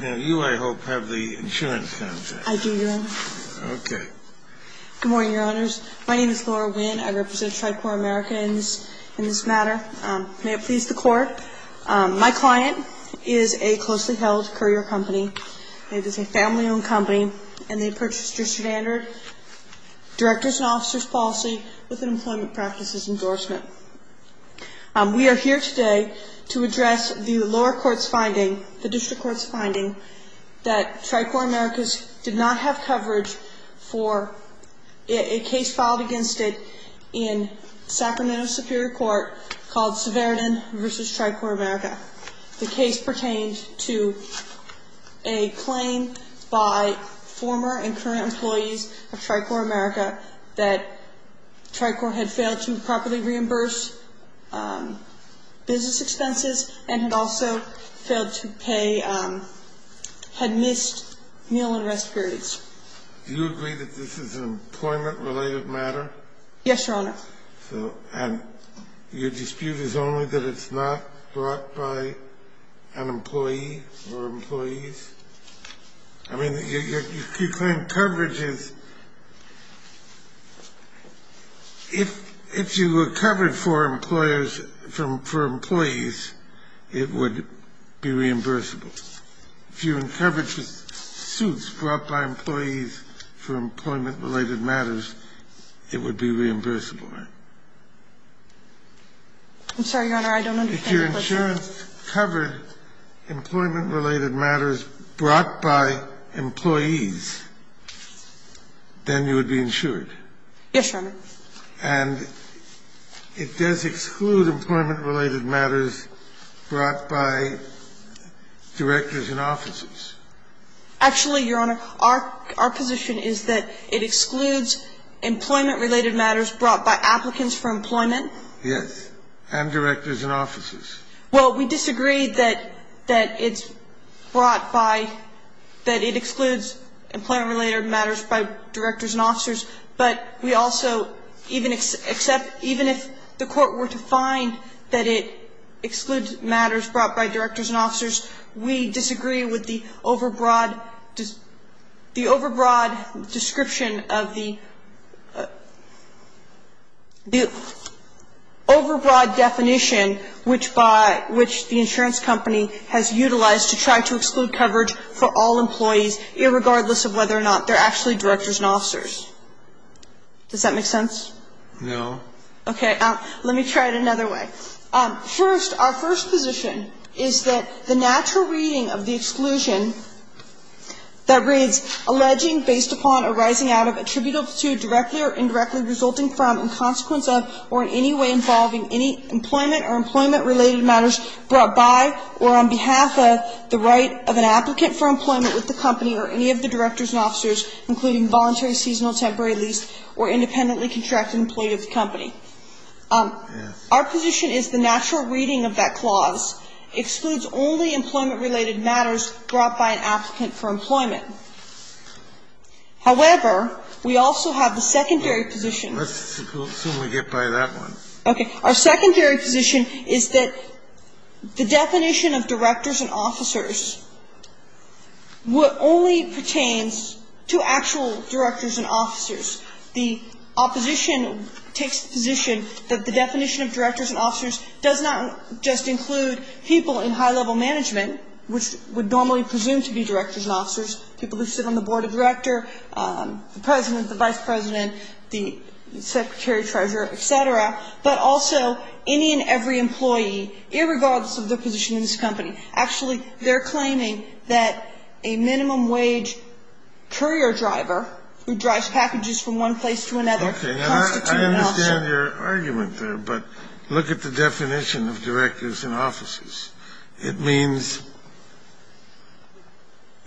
Now you, I hope, have the insurance contract. I do, Your Honor. Okay. Good morning, Your Honors. My name is Laura Winn. I represent Tricor America in this matter. May it please the Court. My client is a closely held courier company. It is a family-owned company and they purchased your standard director's and officer's policy with an employment practices endorsement. We are here today to address the lower court's finding, the district court's finding, that Tricor Americas did not have coverage for a case filed against it in Sacramento Superior Court called Severidan v. Tricor America. The case pertained to a claim by former and current employees of Tricor America that Tricor had failed to properly reimburse business expenses and had also failed to pay, had missed meal and rest periods. Do you agree that this is an employment-related matter? Yes, Your Honor. So, and your dispute is only that it's not brought by an employee or employees? I mean, your claim coverage is, if you were covered for employers, for employees, it would be reimbursable. If you were covered for suits brought by employees for employment-related matters, it would be reimbursable. I'm sorry, Your Honor, I don't understand your question. If your insurance covered employment-related matters brought by employees, then you would be insured. Yes, Your Honor. And it does exclude employment-related matters brought by directors and officers. Actually, Your Honor, our position is that it excludes employment-related matters brought by applicants for employment. Yes. And directors and officers. Well, we disagree that it's brought by, that it excludes employment-related matters by directors and officers, but we also even accept, even if the Court were to find that it excludes matters brought by directors and officers, we disagree with the overbroad, the overbroad description of the, the overbroad definition which by, which the insurance company has utilized to try to exclude coverage for all employees, irregardless of whether or not they're actually directors and officers. Does that make sense? No. Okay. Let me try it another way. First, our first position is that the natural reading of the exclusion that reads alleging based upon arising out of attributable to, directly or indirectly resulting from, in consequence of, or in any way involving any employment or employment-related matters brought by or on behalf of the right of an applicant for employment with the company or any of the directors and officers, including voluntary, seasonal, temporary, leased, or independently contracted employee of the company. Yes. Our position is the natural reading of that clause excludes only employment-related matters brought by an applicant for employment. However, we also have the secondary position. Let's assume we get by that one. Okay. Our secondary position is that the definition of directors and officers only pertains to actual directors and officers. The opposition takes the position that the definition of directors and officers does not just include people in high-level management, which would normally presume to be directors and officers, people who sit on the board of directors, the president, the vice president, the secretary, treasurer, et cetera, but also any and every employee, irregardless of their position in this company. Actually, they're claiming that a minimum wage courier driver who drives packages from one place to another constitutes an officer. Okay. Now, I understand your argument there, but look at the definition of directors and officers. It means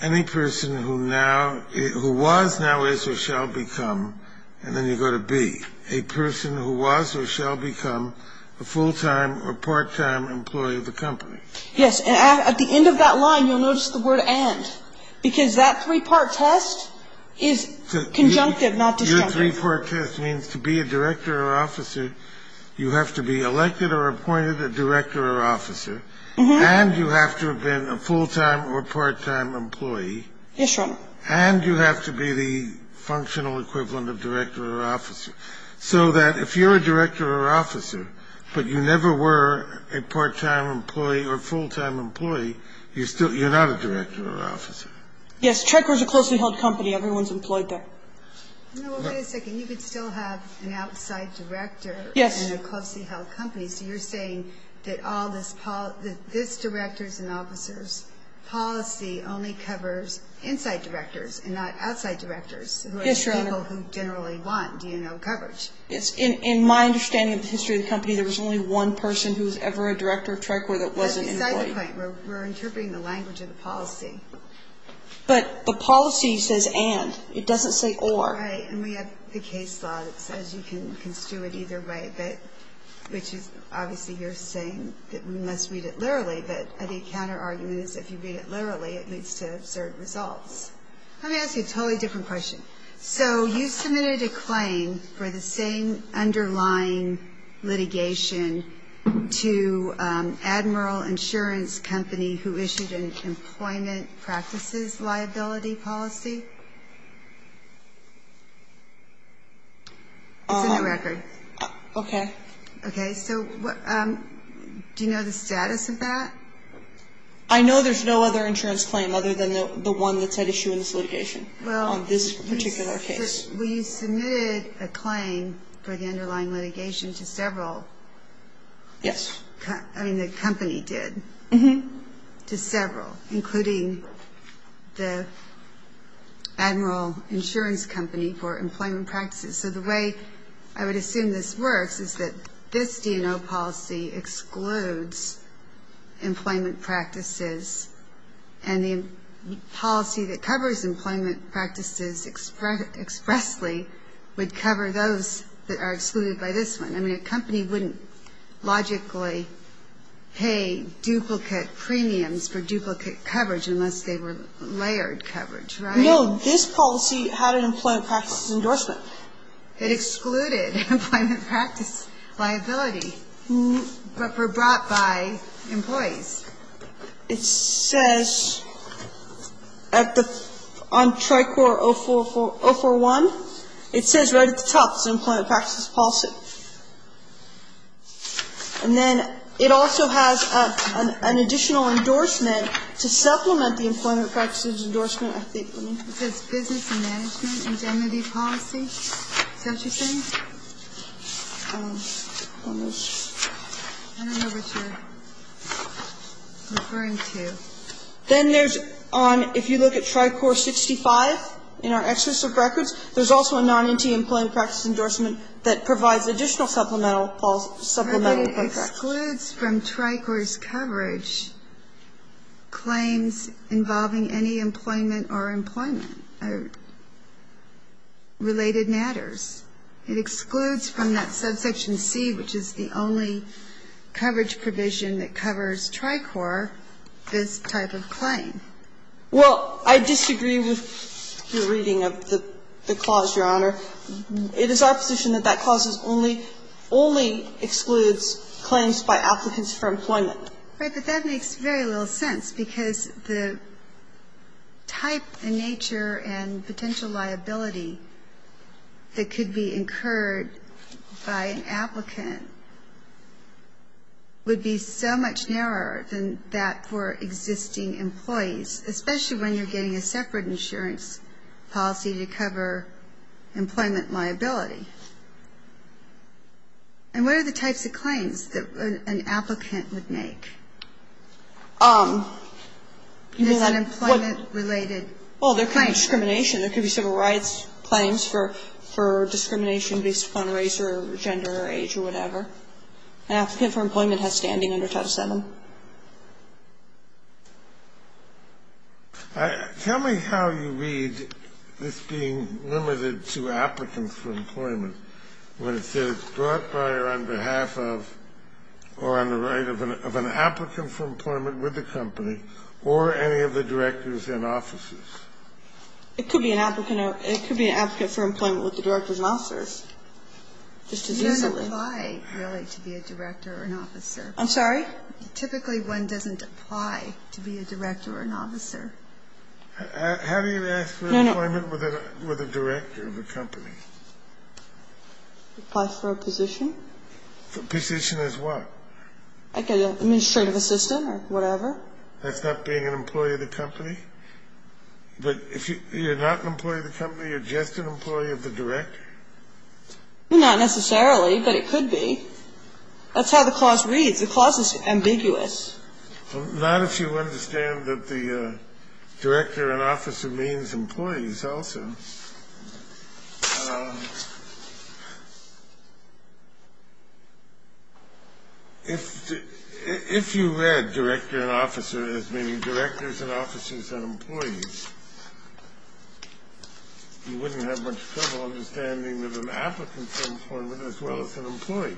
any person who now who was, now is, or shall become, and any person who was or shall become a full-time or part-time employee of the company. Yes. And at the end of that line, you'll notice the word and, because that three-part test is conjunctive, not disjunctive. Your three-part test means to be a director or officer, you have to be elected or appointed a director or officer, and you have to have been a full-time or part-time employee. Yes, Your Honor. And you have to be the functional equivalent of director or officer, so that if you're a director or officer, but you never were a part-time employee or full-time employee, you're still, you're not a director or officer. Yes, Trecker's a closely held company. Everyone's employed there. No, wait a second. You could still have an outside director. Yes. In a closely held company, so you're saying that all this, that this directors and officers policy only covers inside directors and not outside directors? Yes, Your Honor. Who are the people who generally want DNO coverage? In my understanding of the history of the company, there was only one person who was ever a director of Trecker that wasn't employed. That's beside the point. We're interpreting the language of the policy. But the policy says and. It doesn't say or. Right. And we have the case law that says you can construe it either way, which is obviously you're saying that we must read it literally. But the counterargument is if you read it literally, it leads to absurd results. Let me ask you a totally different question. So you submitted a claim for the same underlying litigation to Admiral Insurance Company, who issued an employment practices liability policy? It's in the record. Okay. Okay. So do you know the status of that? I know there's no other insurance claim other than the one that's at issue in this litigation. Well. On this particular case. We submitted a claim for the underlying litigation to several. Yes. I mean, the company did. Mm-hmm. To several, including the Admiral Insurance Company for employment practices. So the way I would assume this works is that this DNO policy excludes employment practices, and the policy that covers employment practices expressly would cover those that are excluded by this one. I mean, a company wouldn't logically pay duplicate premiums for duplicate coverage No. This policy had an employment practices endorsement. It excluded employment practice liability, but were brought by employees. It says on Tricor 041, it says right at the top, it's an employment practices policy. And then it also has an additional endorsement to supplement the employment practices endorsement. It says business management indemnity policy. Is that what you're saying? I don't know what you're referring to. Then there's on, if you look at Tricor 65, in our excess of records, there's also a non-empty employment practices endorsement that provides additional supplemental. It excludes from Tricor's coverage claims involving any employment or employment or related matters. It excludes from that subsection C, which is the only coverage provision that covers Tricor this type of claim. Well, I disagree with your reading of the clause, Your Honor. It is our position that that clause only excludes claims by applicants for employment. Right, but that makes very little sense because the type and nature and potential liability that could be incurred by an applicant would be so much narrower than that for existing employees, especially when you're getting a separate insurance policy to cover employment liability. And what are the types of claims that an applicant would make? Is that employment related? Well, there could be discrimination. There could be civil rights claims for discrimination based upon race or gender or age or whatever. An applicant for employment has standing under Title VII. Tell me how you read this being limited to applicants for employment when it says brought by or on behalf of or on the right of an applicant for employment with the company or any of the directors and officers. It could be an applicant for employment with the directors and officers just as easily. You don't apply, really, to be a director or an officer. I'm sorry? Typically, one doesn't apply to be a director or an officer. How do you ask for employment with a director of a company? Apply for a position. A position as what? Like an administrative assistant or whatever. That's not being an employee of the company? But if you're not an employee of the company, you're just an employee of the director? Not necessarily, but it could be. That's how the clause reads. The clause is ambiguous. Not if you understand that the director and officer means employees also. If you read director and officer as meaning directors and officers and employees, you wouldn't have much trouble understanding that an applicant for employment as well as an employee.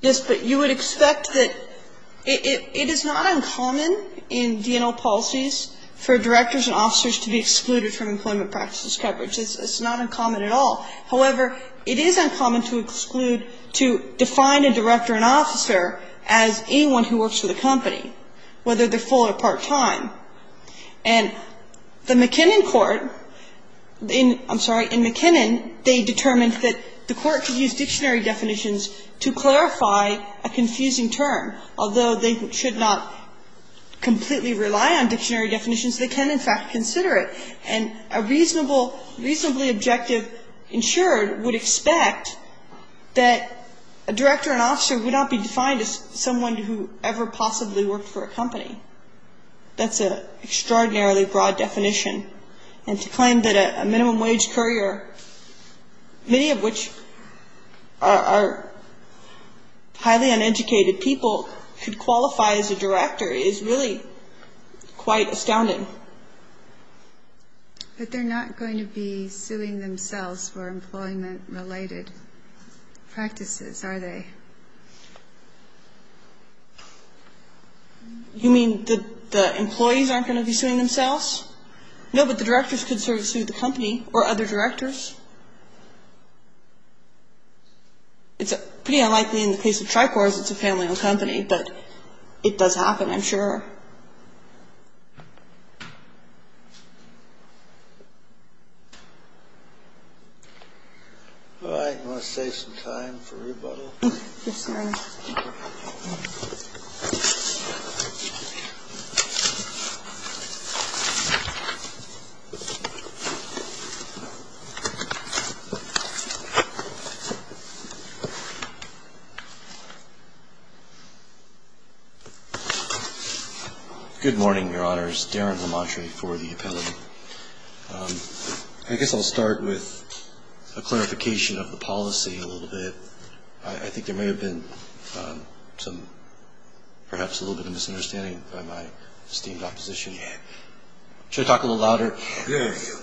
Yes, but you would expect that it is not uncommon in DNO policies for directors and officers to be excluded from employment practices coverage. It's not uncommon at all. However, it is uncommon to exclude, to define a director and officer as anyone who works for the company, whether they're full or part-time. And the McKinnon court, I'm sorry, in McKinnon, they determined that the court could use dictionary definitions to clarify a confusing term. Although they should not completely rely on dictionary definitions, they can, in fact, consider it. And a reasonably objective insurer would expect that a director and officer would not be defined That's an extraordinarily broad definition. And to claim that a minimum wage courier, many of which are highly uneducated people, could qualify as a director is really quite astounding. But they're not going to be suing themselves for employment-related practices, are they? You mean that the employees aren't going to be suing themselves? No, but the directors could sort of sue the company or other directors. It's pretty unlikely in the case of Tricor as it's a family-owned company, but it does happen, I'm sure. All right, I'm going to save some time for rebuttal. Yes, sir. Good morning, Your Honors. Darren Lamontrey for the appellate. I guess I'll start with a clarification of the policy a little bit. I think there may have been some, perhaps a little bit of a misunderstanding by my esteemed opposition. Should I talk a little louder? Yes.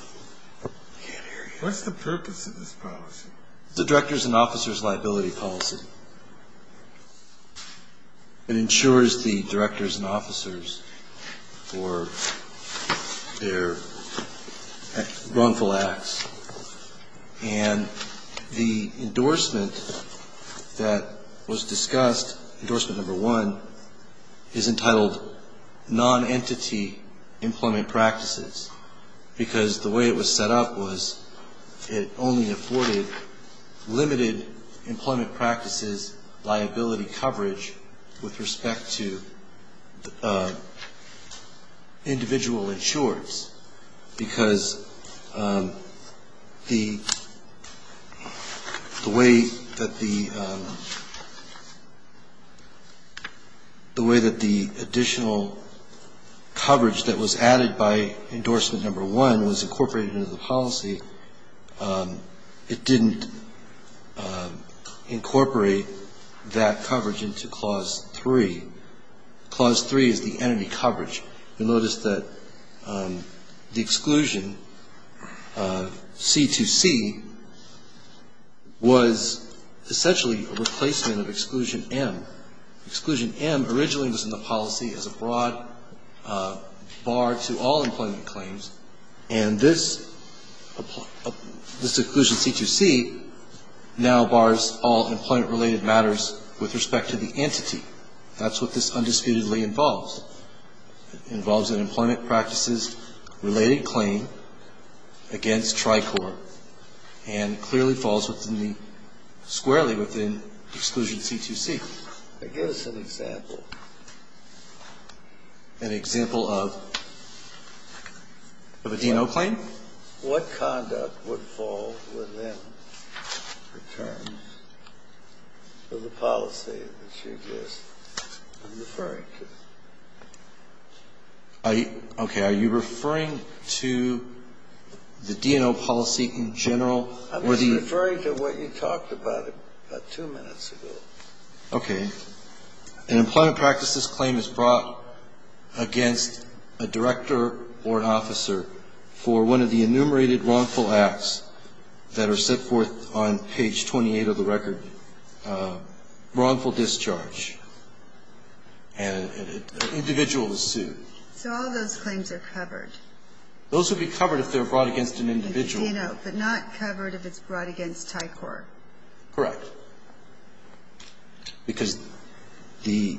What's the purpose of this policy? It's a director's and officer's liability policy. It ensures the directors and officers for their wrongful acts. And the endorsement that was discussed, endorsement number one, is entitled non-entity employment practices because the way it was set up was it only afforded limited employment practices liability coverage with respect to individual insurers, because the way that the additional coverage that was added by endorsement number one was incorporated into the policy, it didn't incorporate that coverage into Clause 3. Clause 3 is the entity coverage. You'll notice that the exclusion, C2C, was essentially a replacement of Exclusion M. Exclusion M originally was in the policy as a broad bar to all employment claims, and this Exclusion C2C now bars all employment-related matters with respect to the entity. That's what this undisputedly involves. It involves an employment practices-related claim against Tricor, and clearly falls squarely within Exclusion C2C. Now, give us an example. An example of? Of a D&O claim? What conduct would fall within the terms of the policy that you've used? I'm referring to. Okay. Are you referring to the D&O policy in general? I'm just referring to what you talked about about two minutes ago. Okay. An employment practices claim is brought against a director or an officer for one of the enumerated wrongful acts that are set forth on page 28 of the record, wrongful discharge, and an individual is sued. So all those claims are covered? Those would be covered if they're brought against an individual. A D&O, but not covered if it's brought against Tricor? Correct. Because the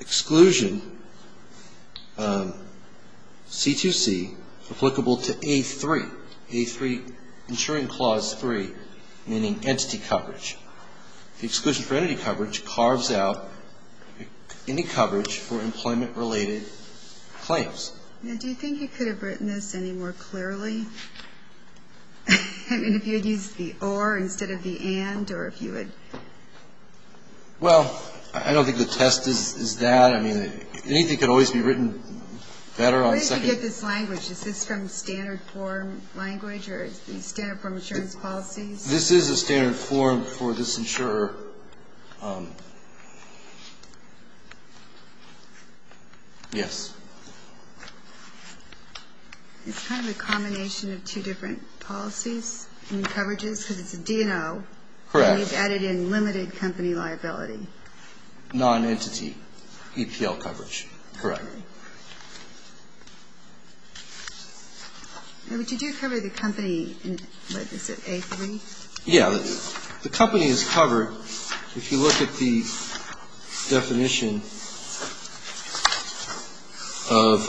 exclusion, C2C, applicable to A3, A3, ensuring clause 3, meaning entity coverage. The exclusion for entity coverage carves out any coverage for employment-related claims. Now, do you think you could have written this any more clearly? I mean, if you had used the or instead of the and, or if you had? Well, I don't think the test is that. I mean, anything could always be written better on second. Where did you get this language? Is this from standard form language or is it standard form insurance policies? This is a standard form for this insurer. Yes. It's kind of a combination of two different policies and coverages because it's a D&O. Correct. And you've added in limited company liability. Non-entity EPL coverage. Correct. And would you do cover the company in, what is it, A3? Yeah. Well, the company is covered if you look at the definition of,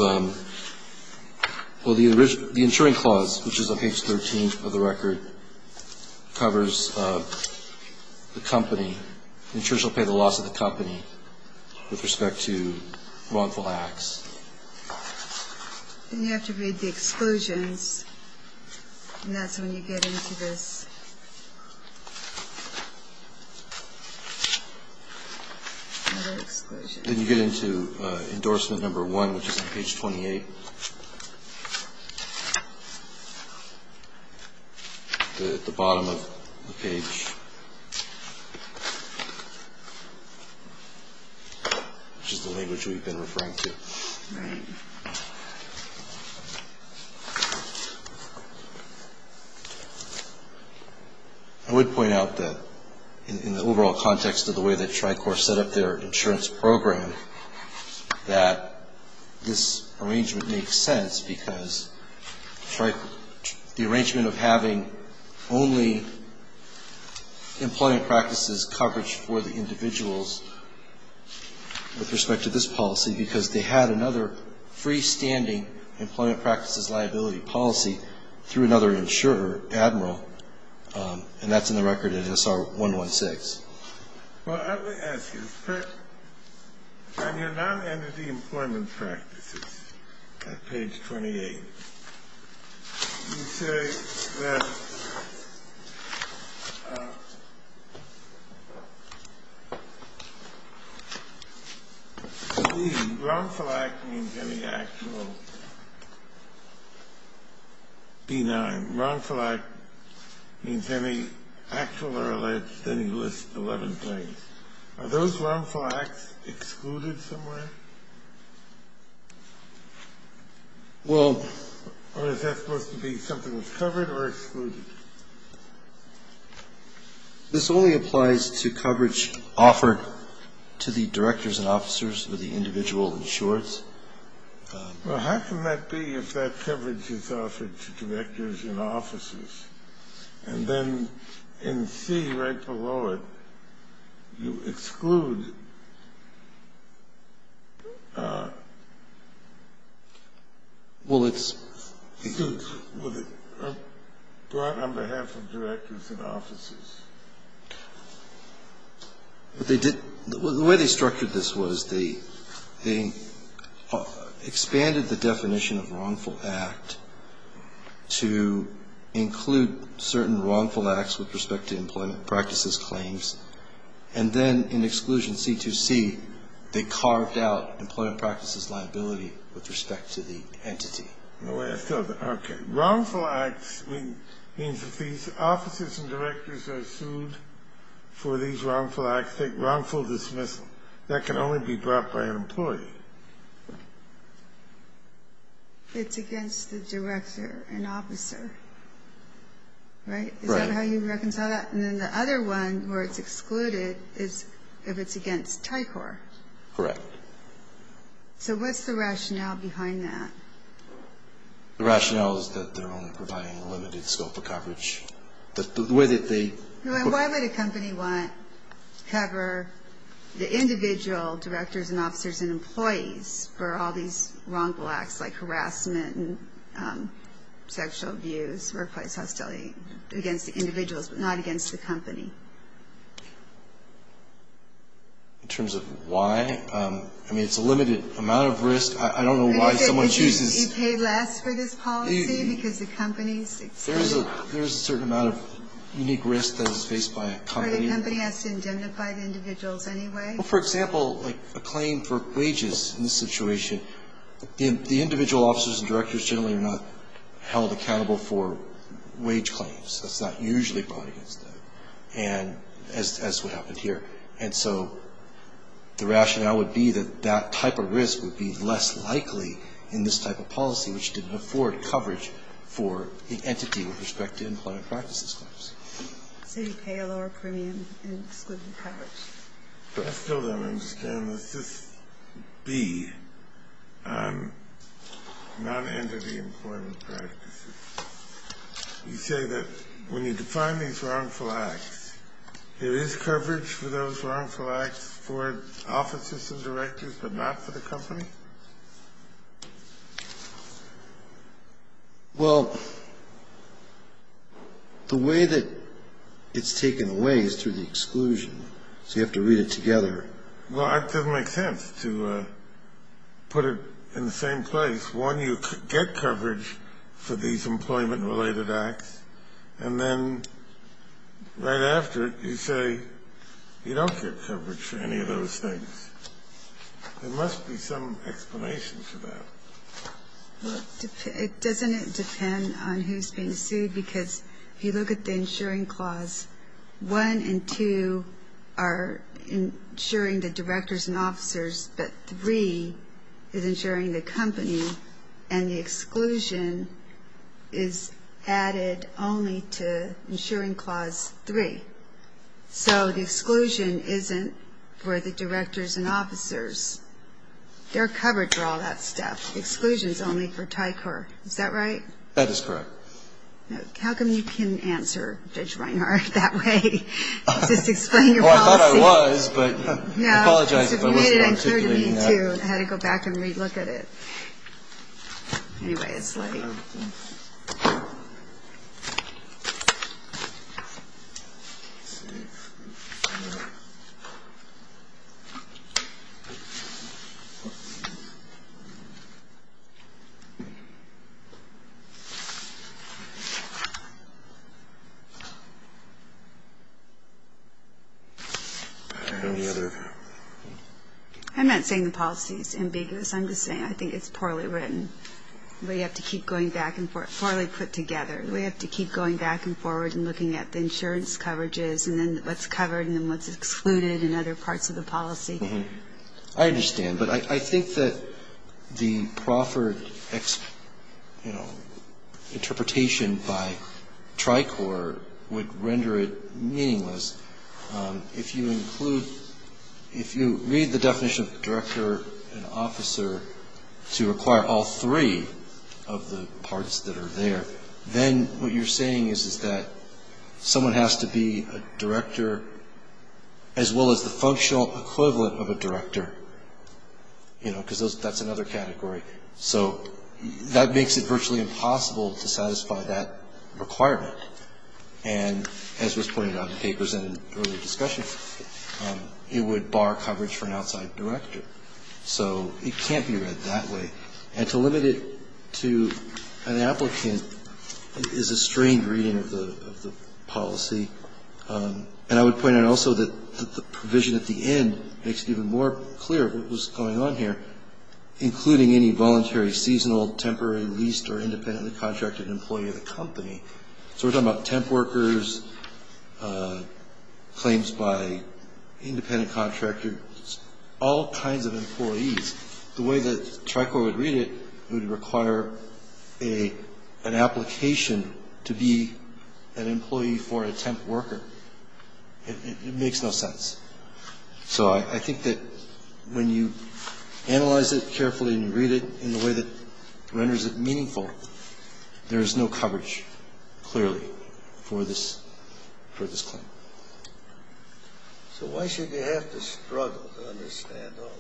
well, the insuring clause, which is on page 13 of the record, covers the company. The insurer shall pay the loss of the company with respect to wrongful acts. And you have to read the exclusions. And that's when you get into this. Then you get into endorsement number one, which is on page 28. At the bottom of the page, which is the language we've been referring to. I would point out that in the overall context of the way that Tricor set up their insurance program, that this arrangement makes sense because the arrangement of having only employment practices coverage for the individuals with respect to this policy because they had another freestanding employment practices liability policy through another insurer, Admiral, and that's in the record in SR 116. Well, I would ask you, on your non-entity employment practices at page 28, you say that wrongful act means any actual benign. Wrongful act means any actual or alleged, then you list 11 things. Are those wrongful acts excluded somewhere? Well, is that supposed to be something that's covered or excluded? This only applies to coverage offered to the directors and officers or the individual insurers. Well, how can that be if that coverage is offered to directors and officers? And then in C, right below it, you exclude suits brought on behalf of directors and officers. The way they structured this was they expanded the definition of wrongful act to include certain wrongful acts with respect to employment practices claims, and then in exclusion C2C, they carved out employment practices liability with respect to the entity. Wrongful acts means if these officers and directors are sued for these wrongful acts, take wrongful dismissal. That can only be brought by an employee. It's against the director and officer, right? Right. Is that how you reconcile that? And then the other one where it's excluded is if it's against TICOR. Correct. So what's the rationale behind that? The rationale is that they're only providing a limited scope of coverage. Why would a company want to cover the individual directors and officers and employees for all these wrongful acts, like harassment and sexual abuse, workplace hostility, against the individuals, but not against the company? In terms of why, I mean, it's a limited amount of risk. I don't know why someone chooses. You pay less for this policy because the company's excluded. There's a certain amount of unique risk that is faced by a company. But the company has to indemnify the individuals anyway. Well, for example, like a claim for wages in this situation, the individual officers and directors generally are not held accountable for wage claims. That's not usually brought against them, as what happened here. And so the rationale would be that that type of risk would be less likely in this type of policy, which didn't afford coverage for the entity with respect to employment practices claims. So you pay a lower premium in excluded coverage. I still don't understand. Does this be on non-entity employment practices? You say that when you define these wrongful acts, there is coverage for those wrongful acts for officers and directors, but not for the company? Well, the way that it's taken away is through the exclusion. So you have to read it together. Well, it doesn't make sense to put it in the same place. One, you get coverage for these employment-related acts, and then right after it you say you don't get coverage for any of those things. There must be some explanation for that. Doesn't it depend on who's being sued? Because if you look at the insuring clause, one and two are insuring the directors and officers, but three is insuring the company, and the exclusion is added only to insuring clause three. So the exclusion isn't for the directors and officers. They're covered for all that stuff. The exclusion is only for TICOR. Is that right? That is correct. How come you can answer, Judge Reinhart, that way? Well, I thought I was, but I apologize if I wasn't articulate enough. I had to go back and re-look at it. I'm not saying the policy is ambiguous. I'm just saying I think it's poorly written. We have to keep going back and forth, poorly put together. We have to keep going back and forward and looking at the insurance coverages and then what's covered and then what's excluded and other parts of the policy. I understand, but I think that the proffered, you know, interpretation by TICOR would render it meaningless. If you include, if you read the definition of director and officer to require all three of the parts that are there, then what you're saying is that someone has to be a director, as well as the functional equivalent of a director, you know, because that's another category. So that makes it virtually impossible to satisfy that requirement. And as was pointed out in papers and in earlier discussion, it would bar coverage for an outside director. So it can't be read that way. And to limit it to an applicant is a strained reading of the policy. And I would point out also that the provision at the end makes it even more clear what was going on here, including any voluntary, seasonal, temporary, leased or independently contracted employee of the company. So we're talking about temp workers, claims by independent contractors, all kinds of employees. The way that TICOR would read it, it would require an application to be an employee for a temp worker. It makes no sense. So I think that when you analyze it carefully and read it in a way that renders it meaningful, there is no coverage, clearly, for this claim. So why should they have to struggle to understand all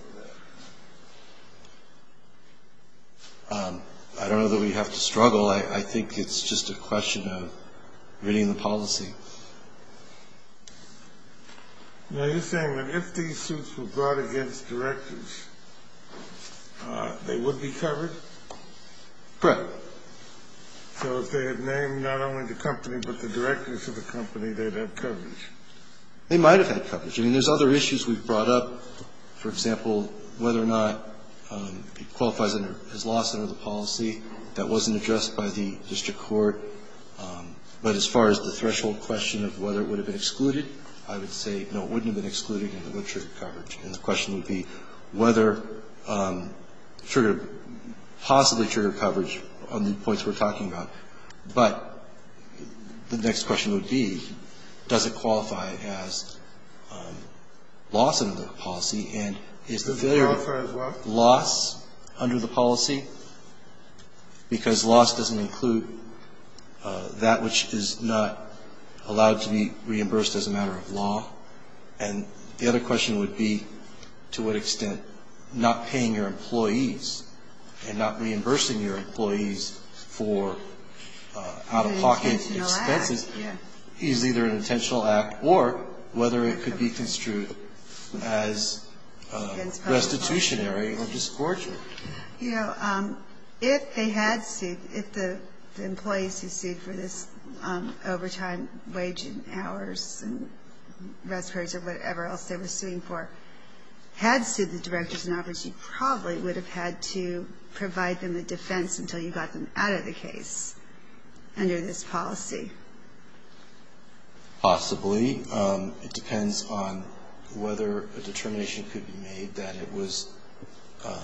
of that? I don't know that we have to struggle. I think it's just a question of reading the policy. Now, you're saying that if these suits were brought against directors, they would be covered? Correct. So if they had named not only the company but the directors of the company, they'd have coverage? They might have had coverage. I mean, there's other issues we've brought up, for example, whether or not it qualifies under his lawsuit or the policy that wasn't addressed by the district court. But as far as the threshold question of whether it would have been excluded, I would say no, it wouldn't have been excluded, and it would trigger coverage. And the question would be whether it triggered, possibly triggered coverage on the points we're talking about. But the next question would be, does it qualify as loss under the policy, and is there loss under the policy? Because loss doesn't include that which is not allowed to be reimbursed as a matter of law. And the other question would be to what extent not paying your employees and not reimbursing your employees for out-of-pocket expenses is either an intentional act or whether it could be construed as restitutionary or just torture. You know, if they had sued, if the employees who sued for this overtime wage and hours and rest periods or whatever else they were suing for had sued the directors and operatives, you probably would have had to provide them a defense until you got them out of the case under this policy. Possibly. It depends on whether a determination could be made that it was not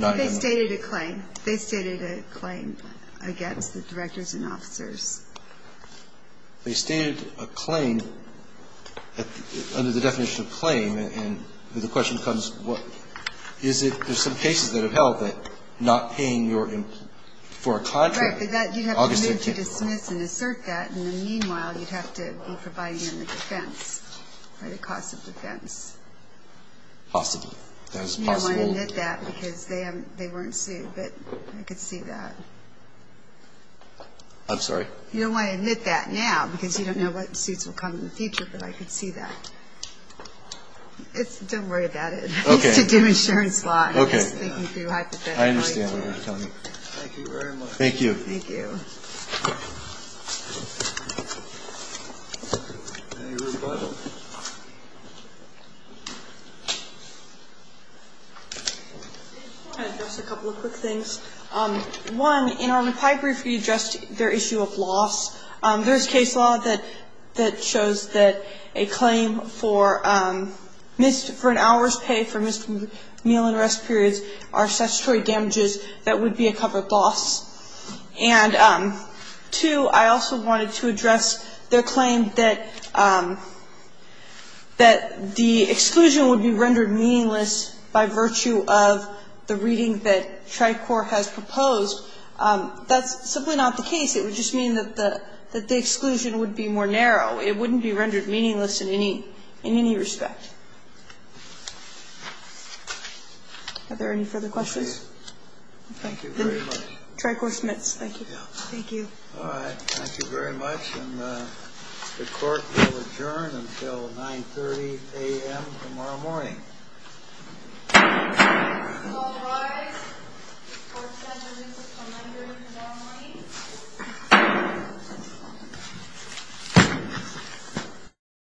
going to be. They stated a claim. They stated a claim against the directors and officers. They stated a claim under the definition of claim, and the question becomes what is it, there's some cases that have held that not paying your employees for a contract. Right, but you'd have to move to dismiss and assert that, and meanwhile you'd have to be providing them a defense for the cost of defense. Possibly. That is possible. You don't want to admit that because they weren't sued, but I could see that. I'm sorry? You don't want to admit that now because you don't know what suits will come in the future, but I could see that. It's, don't worry about it. Okay. It's to do insurance law. Okay. I understand what you're telling me. Thank you very much. Thank you. Thank you. I want to address a couple of quick things. One, in our reply brief we addressed their issue of loss. There's case law that shows that a claim for an hour's pay for missed meal and rest periods are statutory damages that would be a covered loss. And two, I also wanted to address their claim that the exclusion would be rendered meaningless by virtue of the reading that TriCorps has proposed. That's simply not the case. It would just mean that the exclusion would be more narrow. It wouldn't be rendered meaningless in any respect. Are there any further questions? Thank you very much. TriCorps Smiths. Thank you. All right. Thank you very much. And the Court will adjourn until 9.30 a.m. tomorrow morning. Thank you.